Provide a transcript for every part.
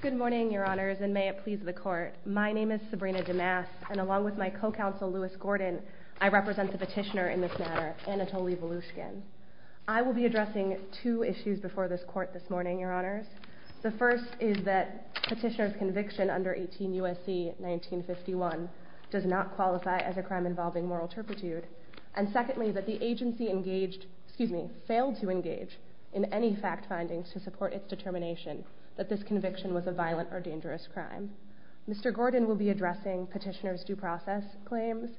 Good morning, Your Honors, and may it please the Court. My name is Sabrina DeMass, and along with my co-counsel Louis Gordon, I represent the petitioner in this matter, Anatoly Valushkin. I will be addressing two issues before this Court this morning, Your Honors. The first is that petitioner's conviction under 18 U.S.C. 1951 does not qualify as a crime involving moral turpitude, and secondly, that the agency engaged—excuse me, failed to engage in any fact findings to support its determination that this conviction was a violent or dangerous crime. Mr. Gordon will be addressing petitioner's due process claims,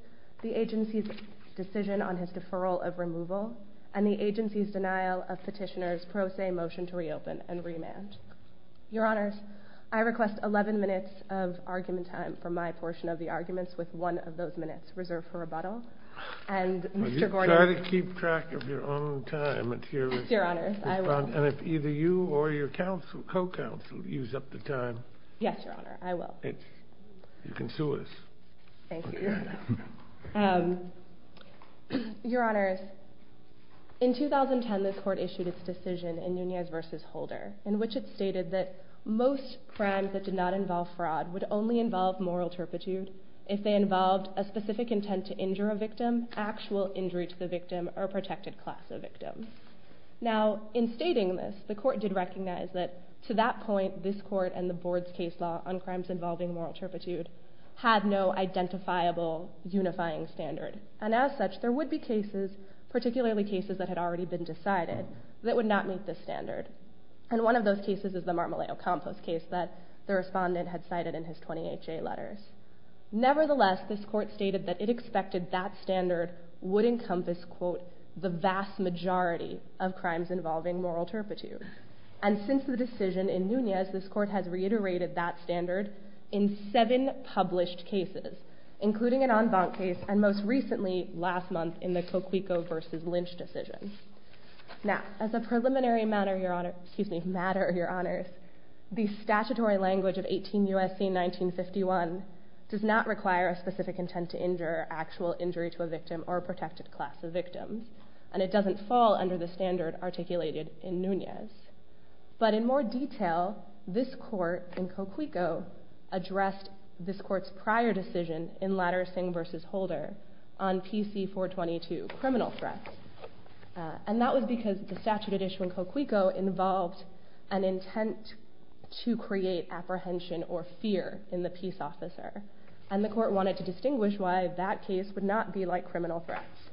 the agency's decision on his deferral of removal, and the agency's denial of petitioner's pro se motion to reopen and remand. Your Honors, I request 11 minutes of argument time for my portion of the arguments with one of those minutes reserved for rebuttal, and Mr. Gordon— And if either you or your co-counsel use up the time— Yes, Your Honor, I will. You can sue us. Thank you. Your Honors, in 2010 this Court issued its decision in Nunez v. Holder, in which it stated that most crimes that did not involve fraud would only involve moral turpitude if they involved a specific intent to injure a victim, actual injury to the victim, or protected class of victim. Now, in stating this, the Court did recognize that to that point, this Court and the Board's case law on crimes involving moral turpitude had no identifiable unifying standard, and as such, there would be cases, particularly cases that had already been decided, that would not meet this standard, and one of those cases is the Marmalado Compost case that the Respondent had cited in his 20 HA letters. Nevertheless, this Court stated that it expected that standard would encompass, quote, the vast majority of crimes involving moral turpitude, and since the decision in Nunez, this Court has reiterated that standard in seven published cases, including an En Vant case, and most recently, last month, in the Coquico v. Lynch decision. Now, as a preliminary matter, Your Honors, the statutory language of 18 U.S.C. 1951 does not require a specific intent to injure, actual injury to a victim, or protected class of victim, and it doesn't fall under the standard articulated in Nunez, but in more detail, this Court in Coquico addressed this Court's prior decision in Latter Singh v. Holder on PC 422, criminal threats, and that was because the statute at issue in Coquico involved an intent to create apprehension or fear in the peace officer, and the Court wanted to distinguish why that case would not be like criminal threats,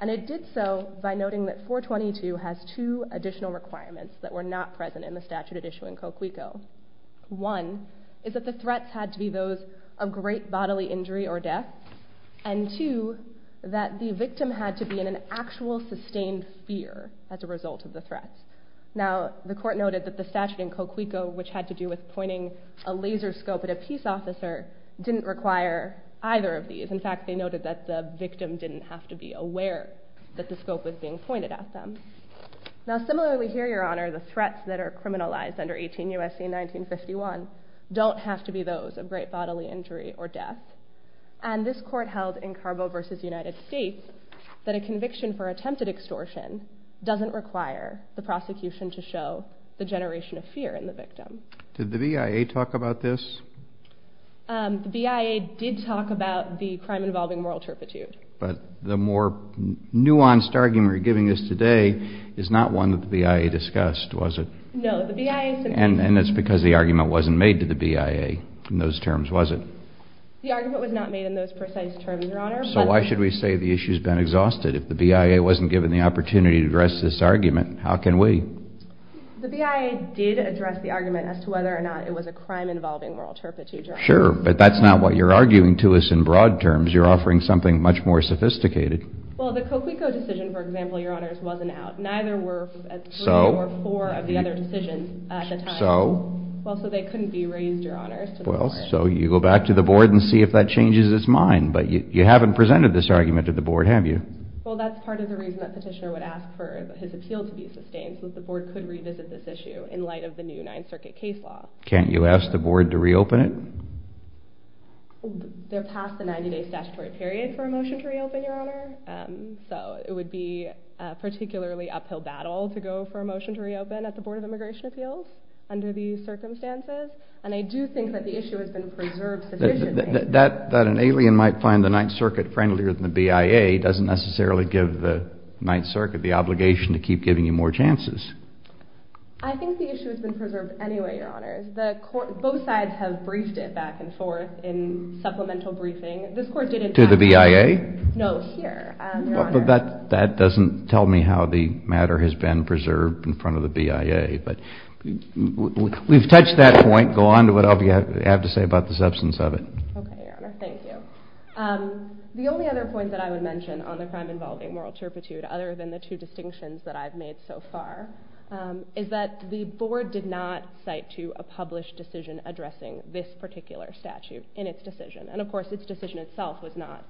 and it did so by noting that 422 has two additional requirements that were not present in the statute at issue in Coquico. One is that the threats had to be those of great bodily injury or death, and two, that the victim had to be in an actual sustained fear as a result of the threats. Now, the Court noted that the statute in Coquico, which had to do with pointing a laser scope at a peace officer, didn't require either of these. In fact, they noted that the victim didn't have to be aware that the scope was being pointed at them. Now, similarly here, Your Honor, the threats that are criminalized under 18 U.S.C. 1951 don't have to be those of great bodily injury or death, and this Court held in Carbo v. United States that a conviction for attempted extortion doesn't require the prosecution to show the generation of fear in the victim. Did the BIA talk about this? The BIA did talk about the crime involving moral turpitude. But the more nuanced argument you're giving us today is not one that the BIA discussed, was it? No. And that's because the argument wasn't made to the BIA in those terms, was it? The argument was not made in those precise terms, Your Honor. So why should we say the issue's been exhausted if the BIA wasn't given the opportunity to address this argument? How can we? The BIA did address the argument as to whether or not it was a crime involving moral turpitude. Sure, but that's not what you're arguing to us in broad terms. You're offering something much more sophisticated. Well, the Coquico decision, for example, Your Honors, wasn't out. Neither were three or four of the other decisions at the time. So? Well, so they couldn't be raised, Your Honors. Well, so you go back to the Board and see if that changes its mind. But you haven't presented this argument to the Board, have you? Well, that's part of the reason that Petitioner would ask for his appeal to be sustained, since the Board could revisit this issue in light of the new Ninth Circuit case law. Can't you ask the Board to reopen it? They're past the 90-day statutory period for a motion to reopen, Your Honor. So it would be a particularly uphill battle to go for a motion to reopen at the Board of Immigration circumstances. And I do think that the issue has been preserved sufficiently. That an alien might find the Ninth Circuit friendlier than the BIA doesn't necessarily give the Ninth Circuit the obligation to keep giving you more chances. I think the issue has been preserved anyway, Your Honors. Both sides have briefed it back and forth in supplemental briefing. This Court didn't talk about it. To the BIA? No, here, Your Honor. That doesn't tell me how the matter has been preserved in front of the BIA. But we've touched that point. Go on to whatever you have to say about the substance of it. Okay, Your Honor. Thank you. The only other point that I would mention on the crime involving moral turpitude, other than the two distinctions that I've made so far, is that the Board did not cite to a published decision addressing this particular statute in its decision. And of course, its decision itself was not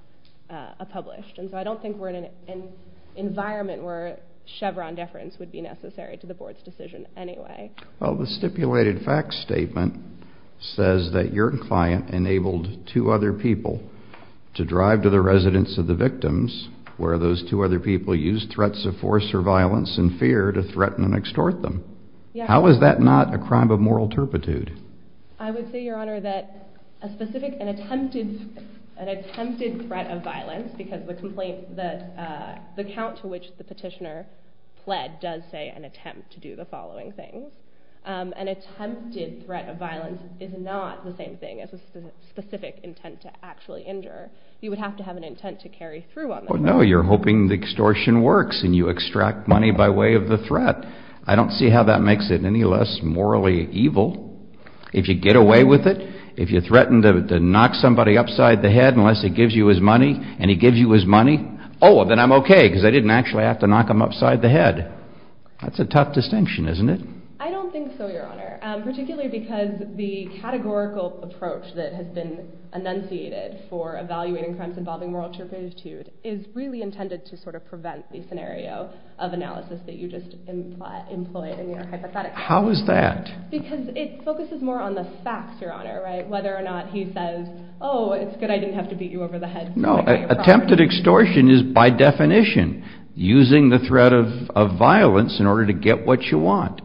published. And so I don't think we're in an environment where Chevron deference would be necessary to the Board's decision anyway. Well, the stipulated facts statement says that your client enabled two other people to drive to the residence of the victims, where those two other people used threats of force or violence and fear to threaten and extort them. How is that not a crime of moral turpitude? I would say, Your Honor, that a specific, an attempted threat of violence, because the account to which the petitioner pled does say an attempt to do the following thing. An attempted threat of violence is not the same thing as a specific intent to actually injure. You would have to have an intent to carry through on that. No, you're hoping the extortion works and you extract money by way of the threat. I don't see how that makes it any less morally evil. If you get away with it, if you threaten to knock somebody upside the head unless he gives you his money, and he gives you his money, then I'm okay because I didn't actually have to knock him upside the head. That's a tough distinction, isn't it? I don't think so, Your Honor, particularly because the categorical approach that has been enunciated for evaluating crimes involving moral turpitude is really intended to sort of prevent the scenario of analysis that you just employed in your hypothetical. How is that? Because it focuses more on the facts, Your Honor, whether or not he says, oh, it's good, I didn't have to beat you over the head. No, attempted extortion is by definition using the threat of violence in order to get what you want.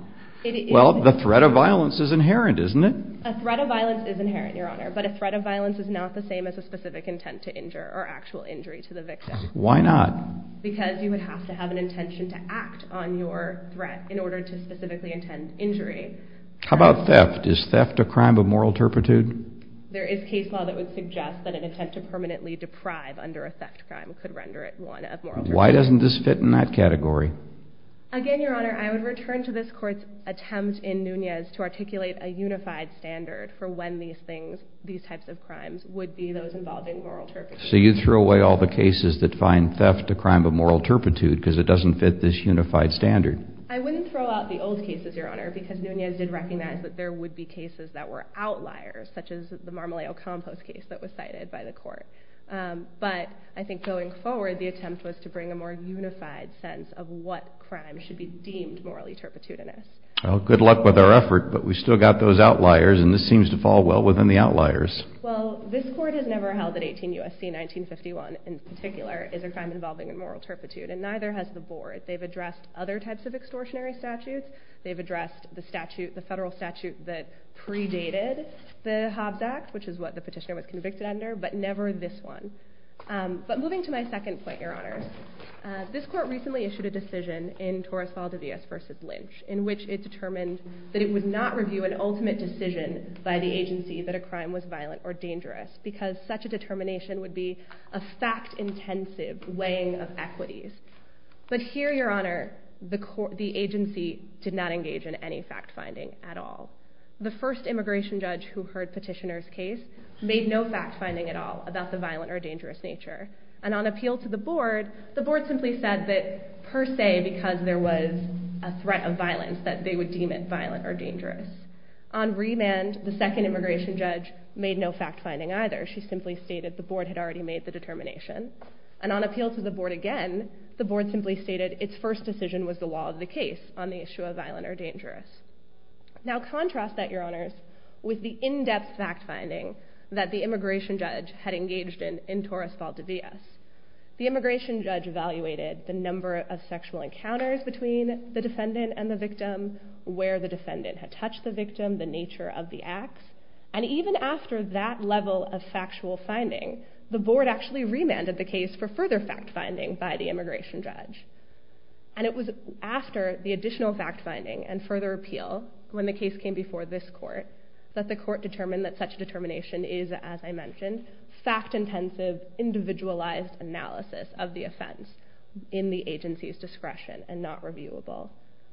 Well, the threat of violence is inherent, isn't it? A threat of violence is inherent, Your Honor, but a threat of violence is not the same as a specific intent to injure or actual injury to the victim. Why not? Because you would have to have an intention to act on your threat in order to specifically intend injury. How about theft? Is theft a crime of moral turpitude? There is case law that would suggest that an attempt to permanently deprive under a theft crime could render it one of moral turpitude. Why doesn't this fit in that category? Again, Your Honor, I would return to this Court's attempt in Nunez to articulate a unified standard for when these things, these types of crimes would be those involving moral turpitude. So you'd throw away all the cases that find theft a crime of moral turpitude because it doesn't fit this unified standard? I wouldn't throw out the old cases, Your Honor, because Nunez did recognize that there would be cases that were outliers, such as the Marmaleo Compost case that was cited by the Court. But I think going forward, the attempt was to bring a more unified sense of what crime should be deemed morally turpitudinous. Well, good luck with our effort, but we've still got those outliers, and this seems to fall well within the outliers. Well, this Court has never held that 18 U.S.C. 1951 in particular is a crime involving moral turpitude, and neither has the Board. They've addressed other types of extortionary statutes. They've addressed the statute, the federal statute that predated the Hobbs Act, which is what the petitioner was convicted under, but never this one. But moving to my second point, Your Honor, this Court recently issued a decision in Torres Falde Villas v. Lynch in which it determined that it would not review an ultimate decision by the agency that a crime was violent or dangerous because such a determination would be a fact-intensive weighing of equities. But here, Your Honor, the agency did not engage in any fact-finding at all. The first immigration judge who heard petitioner's case made no fact-finding at all about the violent or dangerous nature. And on appeal to the Board, the Board simply said that per se, because there was a threat of violence, that they would deem it violent or dangerous. On remand, the second immigration judge made no fact-finding either. She simply stated the Board had already made the determination. And on appeal to the Board again, the Board simply stated its first decision was the law of the case on the issue of violent or dangerous. Now contrast that, Your Honors, with the in-depth fact-finding that the immigration judge had engaged in in Torres Falde Villas. The immigration judge evaluated the number of sexual encounters between the defendant and the victim, where the defendant had touched the victim, the nature of the acts. And even after that level of factual finding, the Board actually remanded the case for further fact-finding by the immigration judge. And it was after the additional fact-finding and further appeal, when the case came before this Court, that the Court determined that such a determination is, as I mentioned, fact-intensive individualized analysis of the offense in the agency's discretion and not reviewable.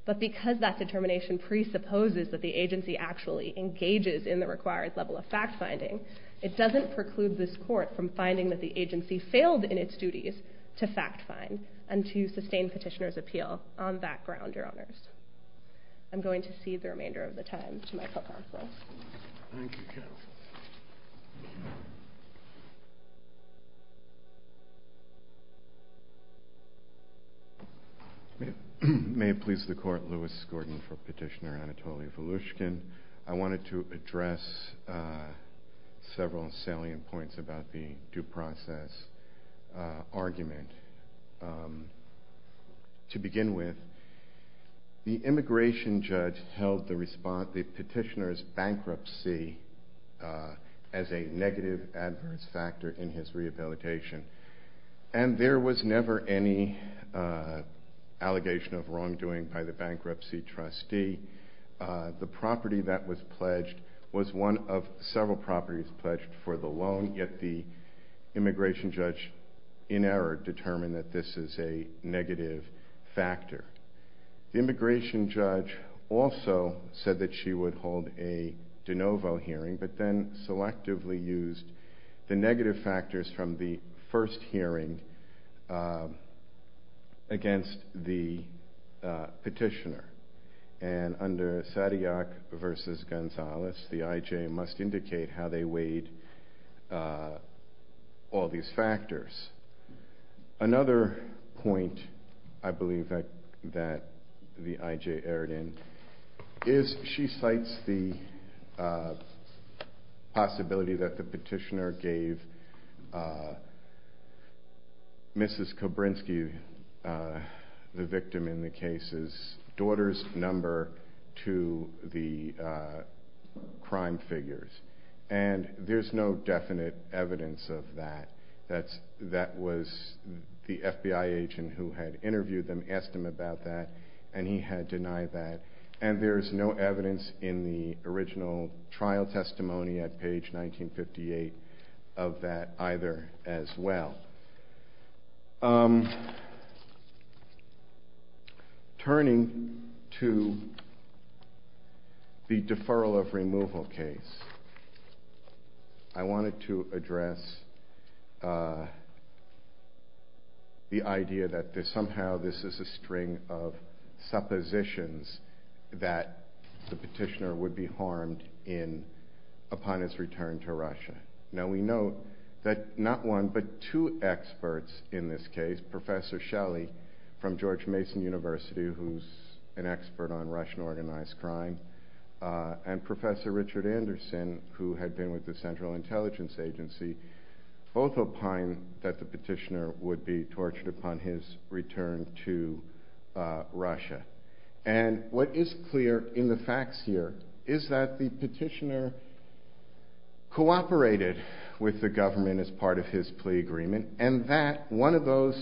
But because that determination presupposes that the agency actually engages in the required level of fact-finding, it doesn't preclude this Court from finding that the agency failed in its duties to fact-find and to sustain petitioner's appeal on that ground, Your Honors. I'm going to cede the remainder of the time to Michael Counsel. Thank you, Jennifer. May it please the Court, Louis Gordon for Petitioner Anatoly Volushkin. I wanted to address several salient points about the due process argument. To begin with, the immigration judge held the petitioner's bankruptcy as a negative adverse factor in his rehabilitation. And there was never any allegation of wrongdoing by the bankruptcy trustee. The property that was pledged was one of several properties pledged for the loan, yet the immigration judge, in error, determined that this is a negative factor. The immigration judge also said that she would hold a de novo hearing, but then selectively used the negative factors from the first hearing against the petitioner. And under Sadiac v. Gonzalez, the I.J. must indicate how they weighed all these factors Another point I believe that the I.J. erred in is she cites the possibility that the petitioner gave Mrs. Kobrynski, the victim in the case's daughter's number, to the crime figures. And there's no definite evidence of that. That was the FBI agent who had interviewed them, asked them about that, and he had denied that. And there's no evidence in the original trial testimony at page 1958 of that either as well. Turning to the deferral of removal case, I wanted to address the idea that somehow this is a string of suppositions that the petitioner would be harmed upon his return to Russia. Now we know that not one, but two experts in this case, Professor Shelley from George Mason University, who's an expert on Russian organized crime, and Professor Richard Anderson, who had been with the Central Intelligence Agency, both opine that the petitioner would be tortured upon his return to Russia. And what is clear in the facts here is that the petitioner cooperated with the government as part of his plea agreement, and that one of those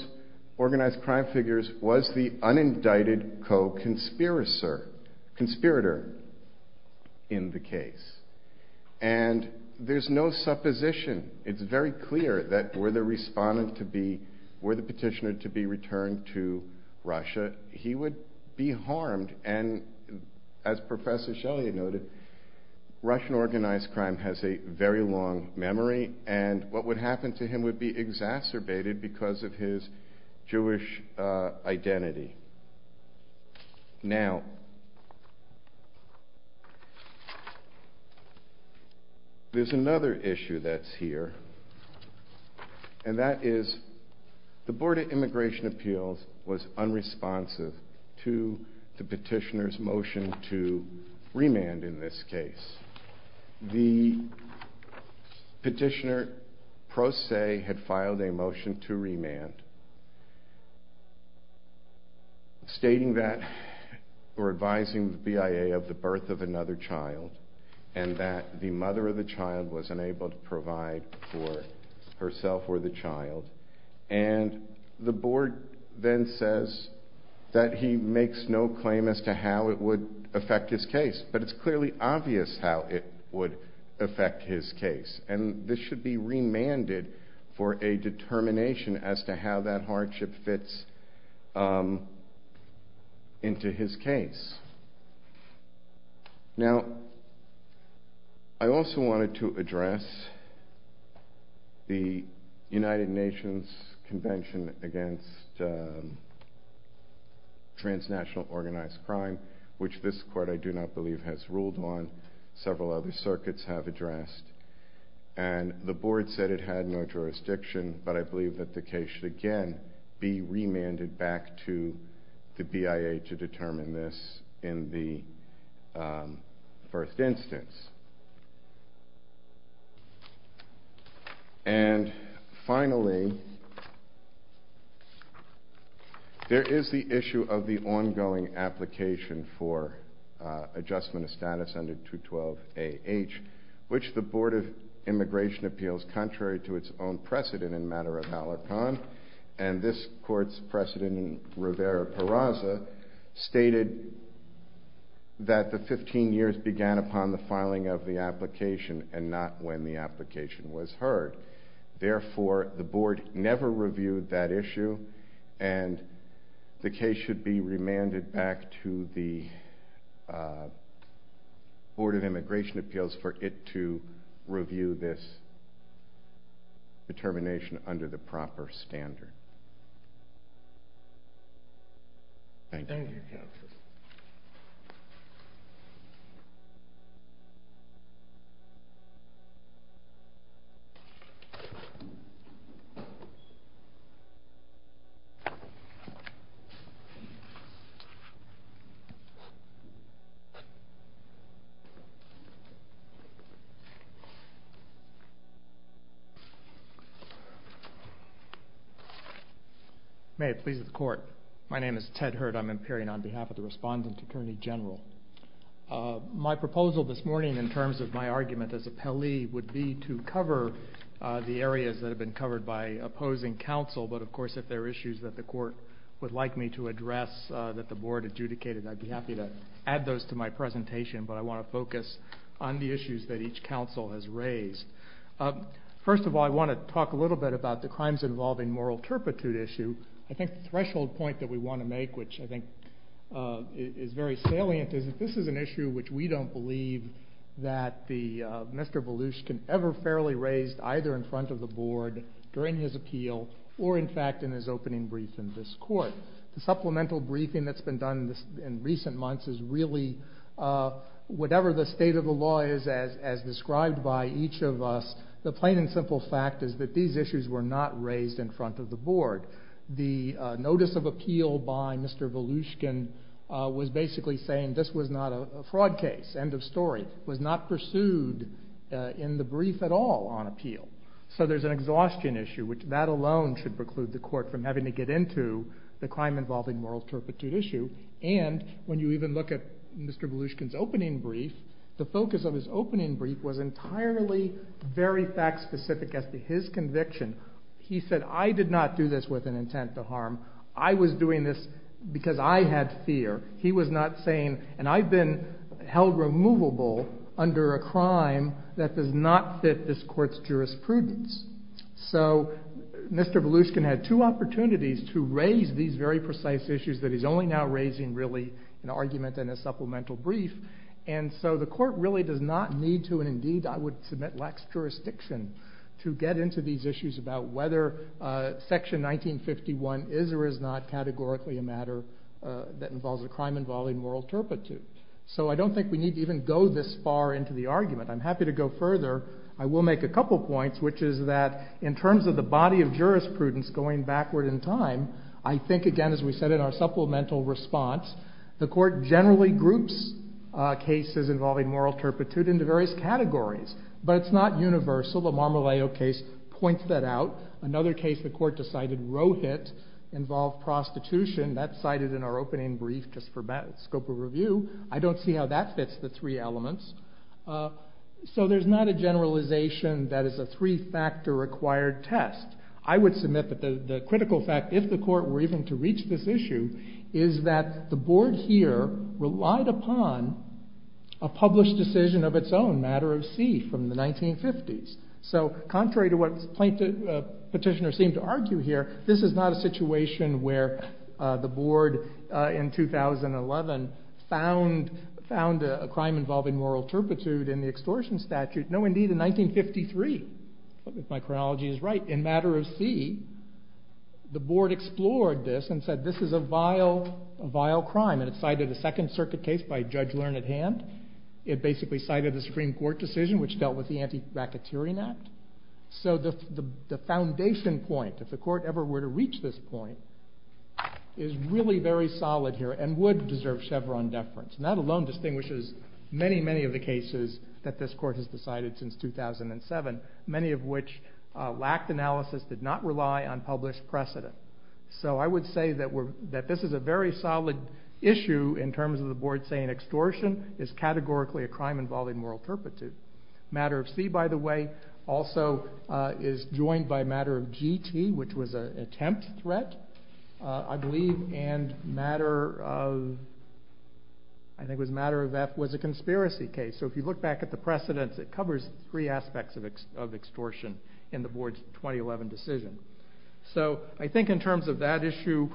organized crime figures was the unindicted co-conspirator in the case. And there's no supposition. It's very clear that were the petitioner to be returned to be harmed, and as Professor Shelley noted, Russian organized crime has a very long memory, and what would happen to him would be exacerbated because of his Jewish identity. Now there's another issue that's here, and that is the Board of Immigration Appeals was the petitioner's motion to remand in this case. The petitioner, pro se, had filed a motion to remand, stating that, or advising the BIA of the birth of another child, and that the mother of the child was unable to provide for herself or the child, and the BIA had no claim as to how it would affect his case, but it's clearly obvious how it would affect his case, and this should be remanded for a determination as to how that hardship fits into his case. I also wanted to address the United Nations Convention against Transnational Overseas Organized Crime, which this court, I do not believe, has ruled on. Several other circuits have addressed, and the board said it had no jurisdiction, but I believe that the case should again be remanded back to the BIA to determine this in the first instance. And, finally, there is the issue of the ongoing application for adjustment of status under 212 AH, which the Board of Immigration Appeals, contrary to its own precedent in matter of Malarcon, and this court's precedent in Rivera-Parasa, stated that the 15 years began upon the filing of the application and not when the application was heard. Therefore, the board never reviewed that issue, and the case should be remanded back to the Board of Immigration Appeals for it to review this determination under the proper standard. Thank you, Counsel. May it please the Court. My name is Ted Hurd. I'm appearing on behalf of the Respondent Attorney General. My proposal this morning, in terms of my argument as an appellee, would be to cover the areas that have been covered by opposing counsel, but, of course, if there are issues that the court would like me to address that the board adjudicated, I'd be happy to add those to my presentation, but I want to focus on the issues that each counsel has raised. First of all, I want to talk a little bit about the crimes involving moral turpitude issue. I think the threshold point that we want to make, which I think is very salient, is that this is an issue which we don't believe that Mr. Belush can ever fairly raise either in front of the board during his appeal or, in fact, in his opening brief in this court. The supplemental briefing that's been done in recent months is really whatever the state of the law is, as described by each of us, the plain and simple fact is that these issues were not raised in front of the board. The notice of appeal by Mr. Belushkin was basically saying this was not a fraud case, end of story, was not pursued in the brief at all on appeal. So there's an exhaustion issue, which that alone should preclude the court from having to get into the crime involving moral turpitude issue, and when you even look at Mr. Belushkin's case, the focus of his opening brief was entirely very fact-specific as to his conviction. He said, I did not do this with an intent to harm. I was doing this because I had fear. He was not saying, and I've been held removable under a crime that does not fit this court's jurisprudence. So Mr. Belushkin had two opportunities to raise these very precise issues that he's only now raising really an argument and a supplemental brief, and so the court really does not need to, and indeed I would submit lacks jurisdiction to get into these issues about whether section 1951 is or is not categorically a matter that involves a crime involving moral turpitude. So I don't think we need to even go this far into the argument. I'm happy to go further. I will make a couple points, which is that in terms of the body of jurisprudence going backward in time, I think again, as we said in our supplemental response, the court generally groups cases involving moral turpitude into various categories, but it's not universal. The Marmoleo case points that out. Another case the court decided, Rohit, involved prostitution. That's cited in our opening brief just for scope of review. I don't see how that fits the three elements. So there's not a generalization that is a three-factor required test. I would submit that the critical fact, if the court were even to reach this issue, is that the board here relied upon a published decision of its own, matter of C, from the 1950s. So contrary to what petitioners seem to argue here, this is not a situation where the board in 2011 found a crime involving moral turpitude in the extortion statute. No, indeed, in 1953, if my chronology is right, in matter of C, the board explored this and said, this is a vile crime. And it cited a Second Circuit case by Judge Learned Hand. It basically cited the Supreme Court decision, which dealt with the Anti-Bracketeering Act. So the foundation point, if the court ever were to reach this point, is really very solid here and would deserve Chevron deference, not alone distinguishes many, many of the cases that this court has decided since 2007, many of which lacked analysis, did not rely on published precedent. So I would say that this is a very solid issue in terms of the board saying extortion is categorically a crime involving moral turpitude. Matter of C, by the way, also is joined by matter of GT, which was an attempt threat, I believe, and matter of, I think it was matter of F, was a conspiracy case. So if you look back at the precedents, it covers three aspects of extortion in the board's 2011 decision. So I think in terms of that issue,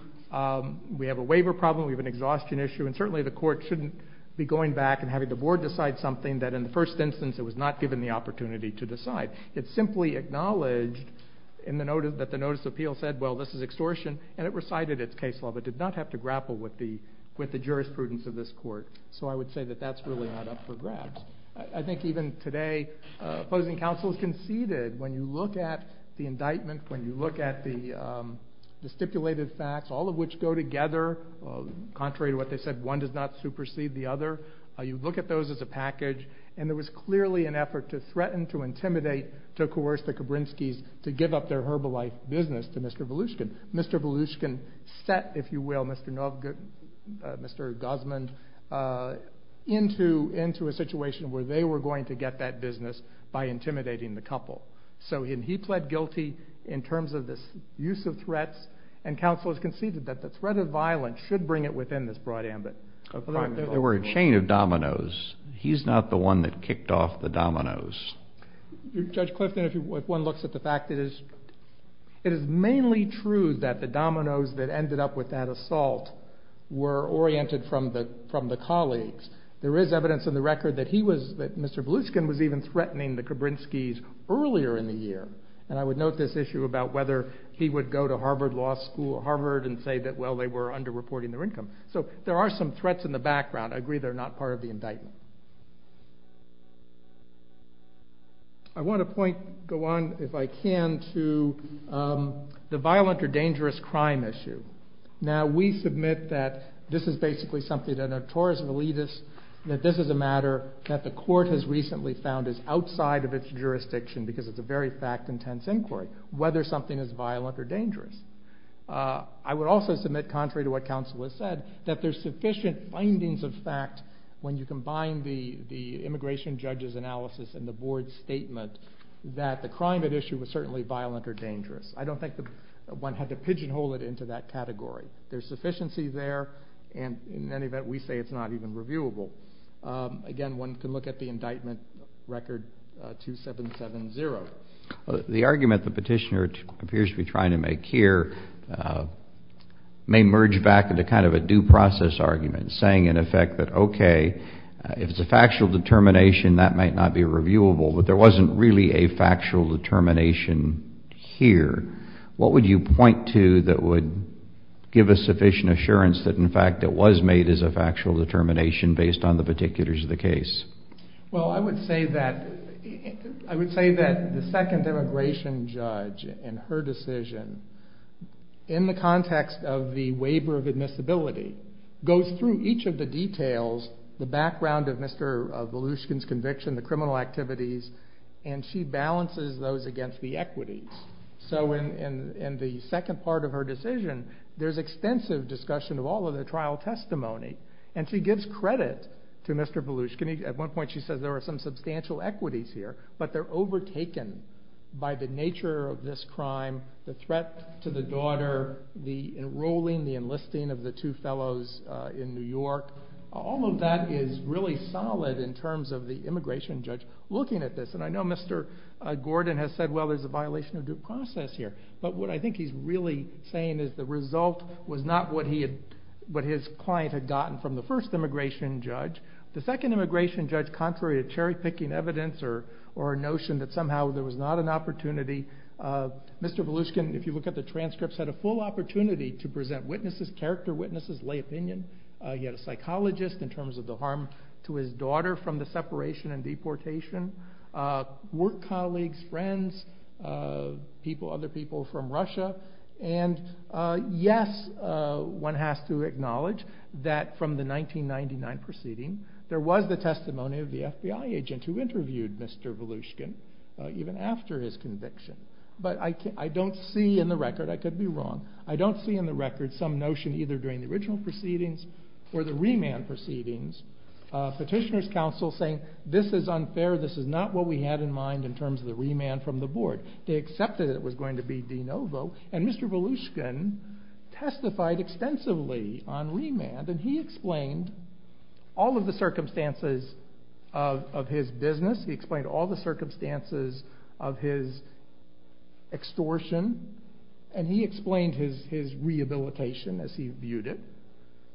we have a waiver problem, we have an exhaustion issue, and certainly the court shouldn't be going back and having the board decide something that in the first instance it was not given the opportunity to decide. It simply acknowledged that the notice of appeal said, well, this is extortion, and it recited its case law, but did not have to grapple with the jurisprudence of this court. So I would say that that's really not up for grabs. I think even today, opposing counsels conceded when you look at the indictment, when you look at the stipulated facts, all of which go together, contrary to what they said, one does not supersede the other. You look at those as a package, and there was clearly an effort to threaten, to intimidate, to coerce the Volushkin. Mr. Volushkin set, if you will, Mr. Gosmund into a situation where they were going to get that business by intimidating the couple. So he pled guilty in terms of this use of threats, and counsel has conceded that the threat of violence should bring it within this broad ambit. There were a chain of dominoes. He's not the one that kicked off the dominoes. Judge Clifton, if one looks at the fact, it is mainly true that the dominoes that ended up with that assault were oriented from the colleagues. There is evidence in the record that he was, that Mr. Volushkin was even threatening the Kabrinskis earlier in the year, and I would note this issue about whether he would go to Harvard Law School, Harvard, and say that, well, they were under-reporting their income. So there are some threats in the background. I agree, they're not part of the indictment. I want to point, go on if I can, to the violent or dangerous crime issue. Now, we submit that this is basically something that a torus of elitist, that this is a matter that the court has recently found is outside of its jurisdiction because it's a very fact-intense inquiry, whether something is violent or dangerous. I would also submit, contrary to what counsel has said, that there's sufficient findings of fact when you combine the immigration judge's analysis and the board's statement that the crime at issue was certainly violent or dangerous. I don't think that one had to pigeonhole it into that category. There's sufficiency there, and in any event, we say it's not even reviewable. Again, one can look at the indictment record 2770. The argument the petitioner appears to be trying to make here may merge back into kind of a due process argument, saying in effect that, okay, if it's a factual determination, that might not be reviewable, but there wasn't really a factual determination here. What would you point to that would give a sufficient assurance that, in fact, it was made as a factual determination based on the particulars of the case? Well, I would say that, I would say that the second immigration judge, in her decision, in the context of the waiver of admissibility, goes through each of the details, the background of Mr. Volushkin's conviction, the criminal activities, and she balances those against the equities. So in the second part of her decision, there's extensive discussion of all of the trial testimony, and she gives credit to Mr. Volushkin. At one point, she says there are some substantial equities here, but they're overtaken by the nature of this crime, the threat to the daughter, the enrolling, the enlisting of the two fellows in New York. All of that is really solid in terms of the immigration judge looking at this, and I know Mr. Gordon has said, well, there's a violation of due process here, but what I think he's really saying is the result was not what his client had gotten from the first immigration judge. The second immigration judge, contrary to cherry-picking evidence or a notion that somehow there was not an opportunity, Mr. Volushkin, if you look at the transcripts, had a full opportunity to present witnesses, character witnesses, lay opinion. He had a psychologist in terms of the harm to his daughter from the separation and deportation, work colleagues, friends, people, other people from the testimony of the FBI agent who interviewed Mr. Volushkin even after his conviction, but I don't see in the record, I could be wrong, I don't see in the record some notion either during the original proceedings or the remand proceedings, petitioner's counsel saying this is unfair, this is not what we had in mind in terms of the remand from the board. They accepted it was going to be de novo, and Mr. Volushkin testified extensively on remand, and he explained all of the circumstances of his business, he explained all the circumstances of his extortion, and he explained his rehabilitation as he viewed it,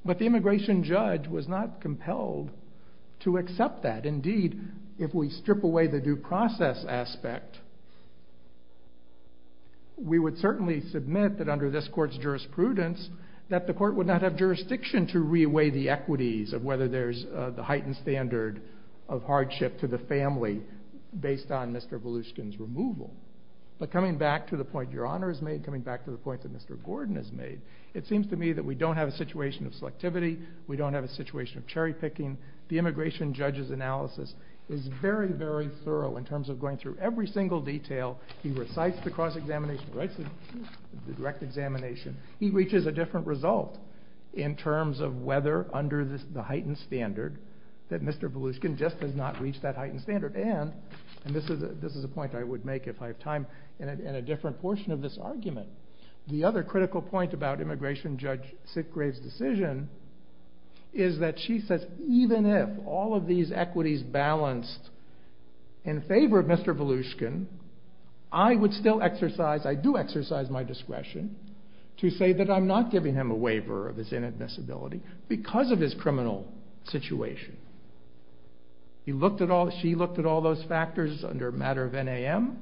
but the immigration judge was not compelled to accept that. Indeed, if we strip away the due process aspect, we would certainly submit that under this court's jurisprudence that the court would not have jurisdiction to re-weigh the equities of whether there's the heightened standard of hardship to the family based on Mr. Volushkin's removal. But coming back to the point your honor has made, coming back to the point that Mr. Gordon has made, it seems to me that we don't have a situation of selectivity, we don't have a situation of cherry picking, the immigration judge's direct examination, he reaches a different result in terms of whether under the heightened standard that Mr. Volushkin just has not reached that heightened standard, and this is a point I would make if I have time in a different portion of this argument. The other critical point about immigration judge Sitgrave's decision is that she says even if all of these equities balanced in I would still exercise, I do exercise my discretion to say that I'm not giving him a waiver of his inadmissibility because of his criminal situation. He looked at all, she looked at all those factors under a matter of NAM,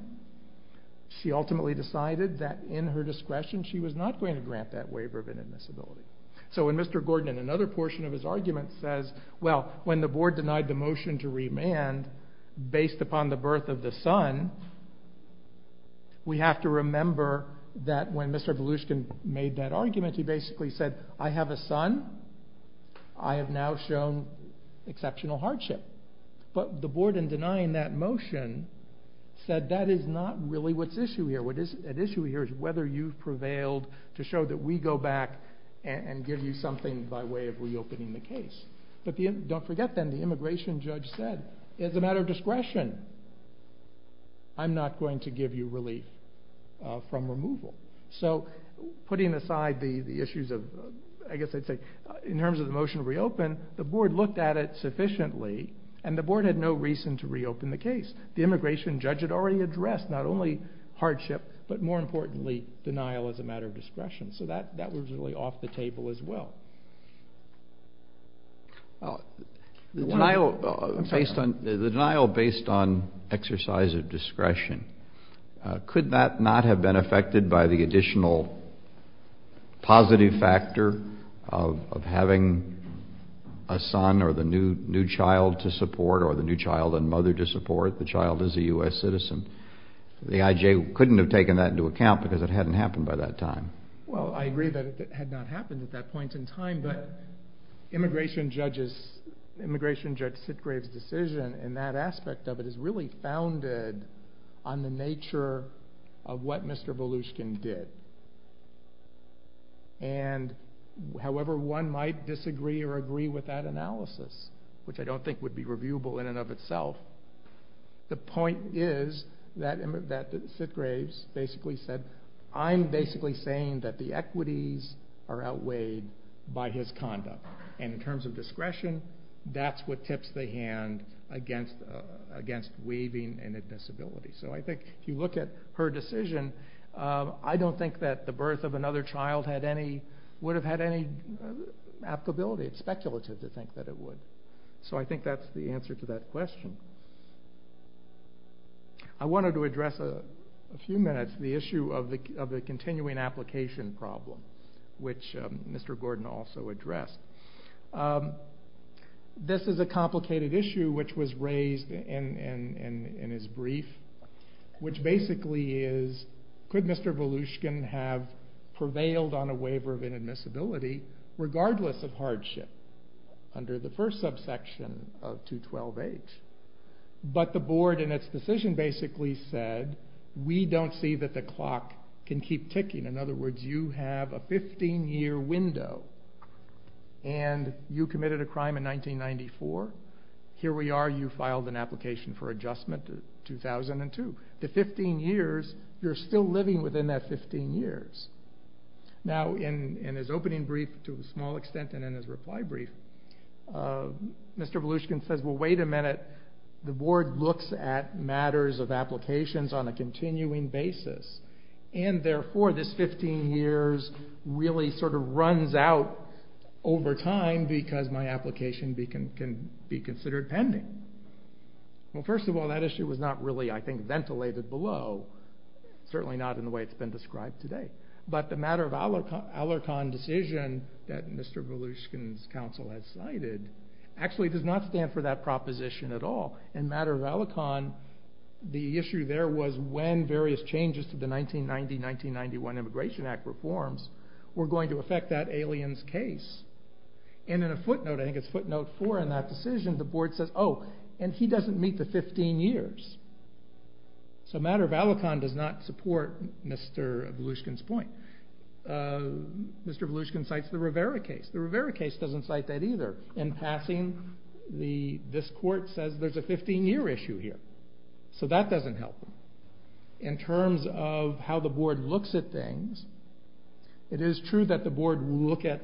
she ultimately decided that in her discretion she was not going to grant that waiver of inadmissibility. So when Mr. Gordon in another portion of his argument says, well when the board denied the motion to remand based upon the birth of the son, we have to remember that when Mr. Volushkin made that argument he basically said I have a son, I have now shown exceptional hardship. But the board in denying that motion said that is not really what's at issue here, what is at issue here is whether you've prevailed to show that we go back and give you something by way of reopening the case. But don't forget then the immigration judge said, as a matter of discretion, I'm not going to give you relief from removal. So putting aside the issues of, I guess I'd say in terms of the motion to reopen, the board looked at it sufficiently and the board had no reason to reopen the case. The immigration judge had already addressed not only hardship but more The denial based on exercise of discretion, could that not have been affected by the additional positive factor of having a son or the new child to support or the new child and mother to support, the child is a U.S. citizen. The IJ couldn't have taken that into account because it hadn't happened by that time. Well I agree that it had not happened at that point in time, but immigration judge Sitgrave's decision in that aspect of it is really founded on the nature of what Mr. Volushkin did. And however one might disagree or agree with that I'm basically saying that the equities are outweighed by his conduct. And in terms of discretion, that's what tips the hand against waiving an admissibility. So I think if you look at her decision, I don't think that the birth of another child would have had any applicability. It's speculative to think that it would. So I think that's the answer to that question. I wanted to address a few minutes the issue of the continuing application problem, which Mr. Gordon also addressed. This is a complicated issue which was raised in his brief, which basically is could Mr. Volushkin have prevailed on a waiver of inadmissibility regardless of hardship under the first subsection of 212H. But the board in its decision basically said we don't see that the clock can keep ticking. In other words, you have a 15 year window and you committed a crime in 1994. Here we are, you filed an application for to a small extent and in his reply brief, Mr. Volushkin says well wait a minute, the board looks at matters of applications on a continuing basis. And therefore this 15 years really sort of runs out over time because my application can be considered pending. Well first of all that issue was not really I think ventilated below, certainly not in the way it's been described today. But the matter of that Mr. Volushkin's counsel had cited actually does not stand for that proposition at all. In matter of Alicon, the issue there was when various changes to the 1990-1991 Immigration Act reforms were going to affect that alien's case. And in a footnote, I think it's footnote four in that decision, the board says oh and he doesn't meet the 15 years. So matter of Alicon does not support Mr. Volushkin's point. Mr. Volushkin cites the Rivera case. The Rivera case doesn't cite that either. In passing, this court says there's a 15 year issue here. So that doesn't help. In terms of how the board looks at things, it is true that the board will look at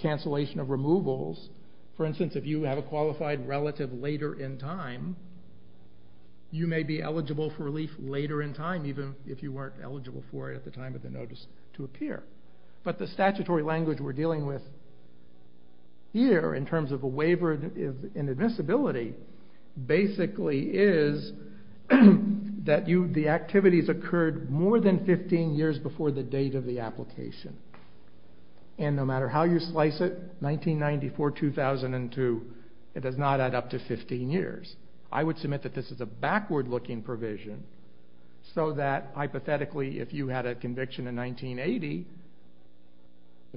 cancellation of removals. For instance, if you have a qualified relative later in time, you may be eligible for relief later in time even if you weren't eligible for it at the time of the notice to the board. The issue that we're dealing with here in terms of a waiver of inadmissibility basically is that the activities occurred more than 15 years before the date of the application. And no matter how you slice it, 1994-2002, it does not add up to 15 years. I would submit that this is a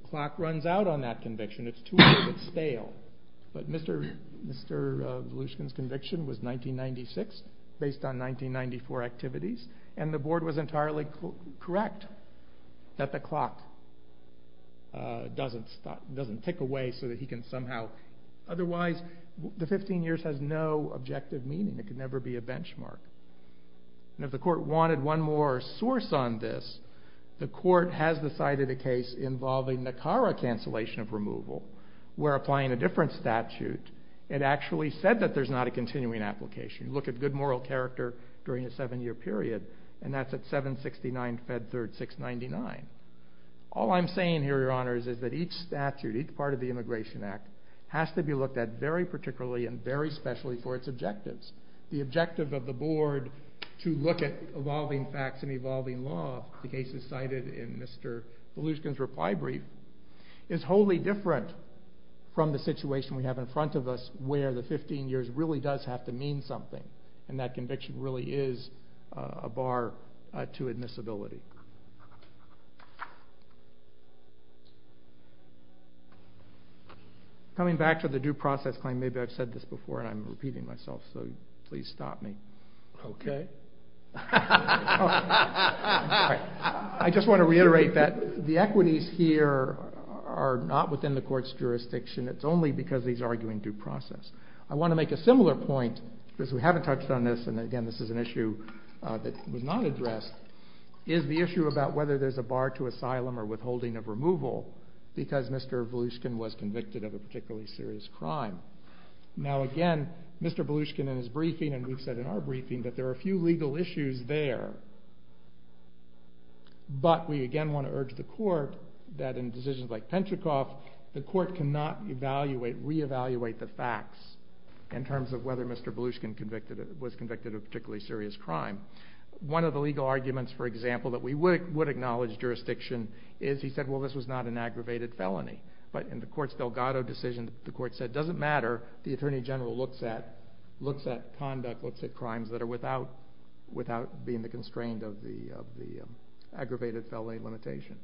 clock runs out on that conviction. It's too late. It's stale. But Mr. Volushkin's conviction was 1996 based on 1994 activities and the board was entirely correct that the clock doesn't tick away so that he can somehow. Otherwise, the 15 years has no objective meaning. It could never be a cancellation of removal. We're applying a different statute. It actually said that there's not a continuing application. You look at good moral character during a 7 year period and that's at 769-Fed3-699. All I'm saying here, your honors, is that each statute, each part of the Immigration Act, has to be looked at very particularly and very specially for its objectives. The objective of the board to look at evolving facts and evolving law, the cases cited in Mr. Volushkin's reply brief, is wholly different from the situation we have in front of us where the 15 years really does have to mean something and that conviction really is a bar to admissibility. Coming back to the due process claim, maybe I've said this before and I'm repeating myself so please stop me. I just want to reiterate that the equities here are not within the court's jurisdiction. It's only because he's arguing due process. I want to make a similar point because we haven't touched on this and again this is an issue that was not addressed, is the issue about whether there's a bar to asylum or withholding of removal because Mr. Volushkin was convicted of a particularly serious crime. Now again, Mr. Volushkin in his briefing, and we've said in our briefing, that there are a few legal issues there, but we again want to urge the court that in decisions like Penchikov, the court cannot reevaluate the facts in terms of whether Mr. Volushkin was convicted of a particularly serious crime. One of the legal issues in the knowledge jurisdiction is he said well this was not an aggravated felony, but in the court's Delgado decision, the court said it doesn't matter, the Attorney General looks at conduct, looks at crimes that are without being the constraint of the aggravated felony limitation.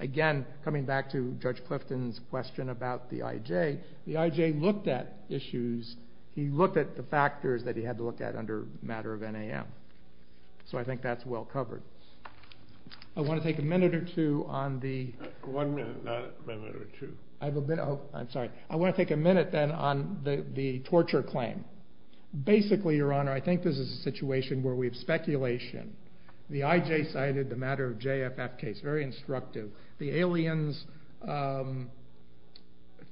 Again, coming back to Judge Clifton's question about the IJ, the IJ looked at issues, he looked at the factors that he had to look at under matter of NAM, so I think that's well covered. I want to take a minute or two on the torture claim. Basically, Your Honor, I think this is a situation where we have speculation. The IJ cited the matter of JFF case, very instructive. The aliens'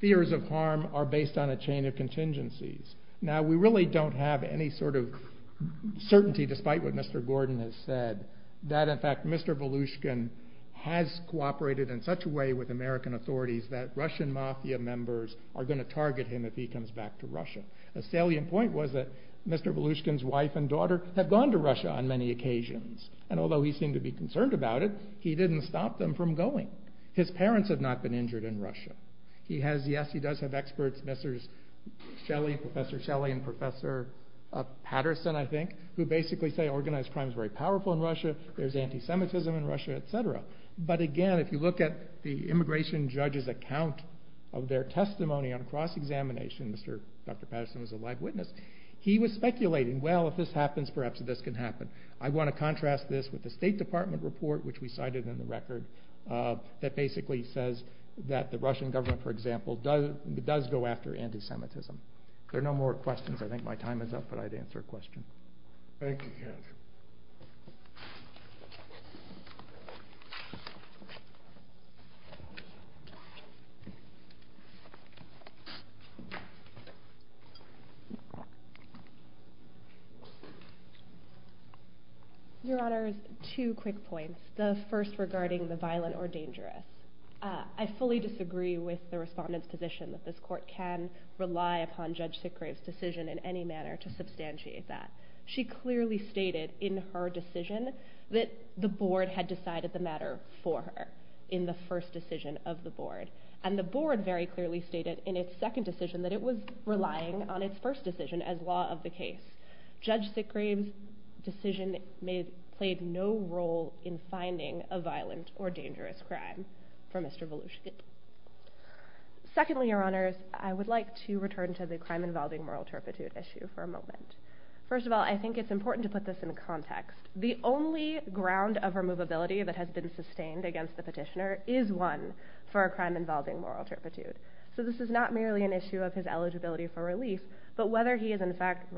fears of harm are based on a chain of contingencies. Now we really don't have any sort of certainty, despite what Mr. Gordon has said, that in fact Mr. Volushkin has cooperated in such a way with American authorities that Russian Mafia members are going to target him if he comes back to Russia. A salient point was that Mr. Volushkin's wife and daughter have gone to Russia on many occasions, and although he seemed to be concerned about it, he didn't stop them from going. His parents have not been injured in Russia. He has, yes he does have experts, Mr. Shelley, Professor Shelley and Professor Patterson, I think, who basically say organized crime is very powerful in Russia, there's anti-Semitism in Russia, etc. But again, if you look at the immigration judge's account of their testimony on cross-examination, Mr. Patterson is a live witness, he was speculating, well if this happens, perhaps this can happen. I want to contrast this with the State Department report, which we cited in the record, that basically says that the Russian government, for example, does go after anti-Semitism. There are no more questions, I think my time is up, but I'd answer a question. Thank you, Ken. Your Honor, two quick points. The first regarding the violent or dangerous. I fully disagree with the Respondent's position that this court can rely upon Judge Sickgrave's statement in her decision that the Board had decided the matter for her in the first decision of the Board. And the Board very clearly stated in its second decision that it was relying on its first decision as law of the case. Judge Sickgrave's decision played no role in finding a violent or dangerous crime for Mr. Voloshnikov. Secondly, Your Honors, I would like to return to the crime involving moral turpitude issue for a moment. First of all, I think it's important to put this in context. The only ground of removability that has been sustained against the Petitioner is one for a crime involving moral turpitude. So this is not merely an issue of his eligibility for relief, but whether he is in fact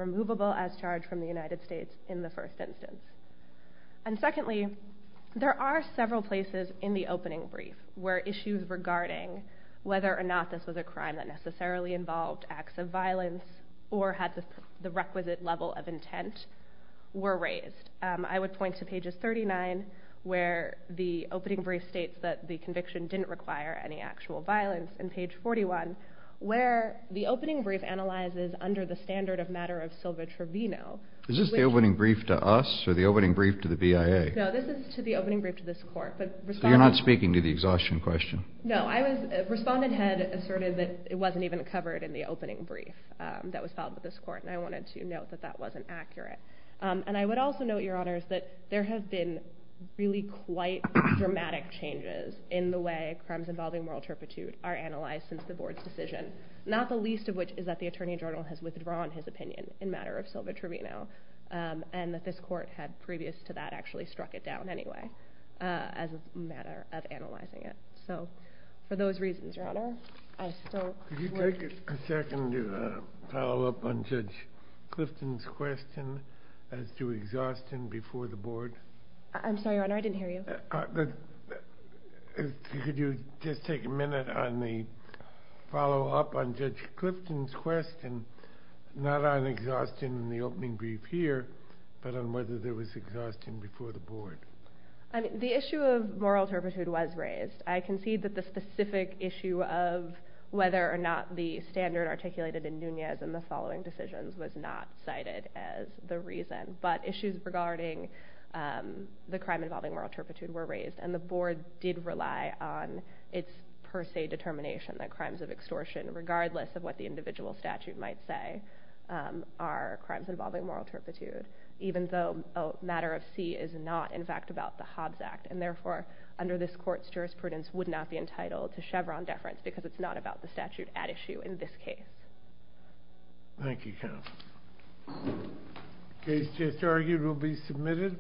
whether or not this was a crime that necessarily involved acts of violence or had the requisite level of intent were raised. I would point to pages 39, where the opening brief states that the conviction didn't require any actual violence, and page 41, where the opening brief analyzes under the standard of matter of sylva-travino. Is this the opening brief to us or the opening brief to the BIA? No, this is to the opening brief to this Court. So you're not speaking to the exhaustion question? No, Respondent Head asserted that it wasn't even covered in the opening brief that was filed with this Court, and I wanted to note that that wasn't accurate. And I would also note, Your Honors, that there have been really quite dramatic changes in the way crimes involving moral turpitude are analyzed since the Board's decision, not the least of which is that the Attorney General has withdrawn his opinion in matter of sylva-travino, and that this Court had previous to that actually struck it down anyway as a matter of analyzing it. So, for those reasons, Your Honor. Could you take a second to follow up on Judge Clifton's question as to exhaustion before the Board? I'm sorry, Your Honor, I didn't hear you. Could you just take a minute on the follow-up on Judge Clifton's question, not on exhaustion in the opening brief here, but on whether there was exhaustion before the Board? The issue of moral turpitude was raised. I concede that the specific issue of whether or not the standard articulated in Nunez in the following decisions was not cited as the reason. But issues regarding the crime involving moral turpitude were raised. And the Board did rely on its per se determination that crimes of extortion, regardless of what the individual statute might say, are crimes involving moral turpitude, even though a matter of C is not, in fact, about the Hobbs Act. And therefore, under this Court's jurisprudence, would not be entitled to Chevron deference because it's not about the statute at issue in this case. Thank you, Counsel. The case just argued will be submitted.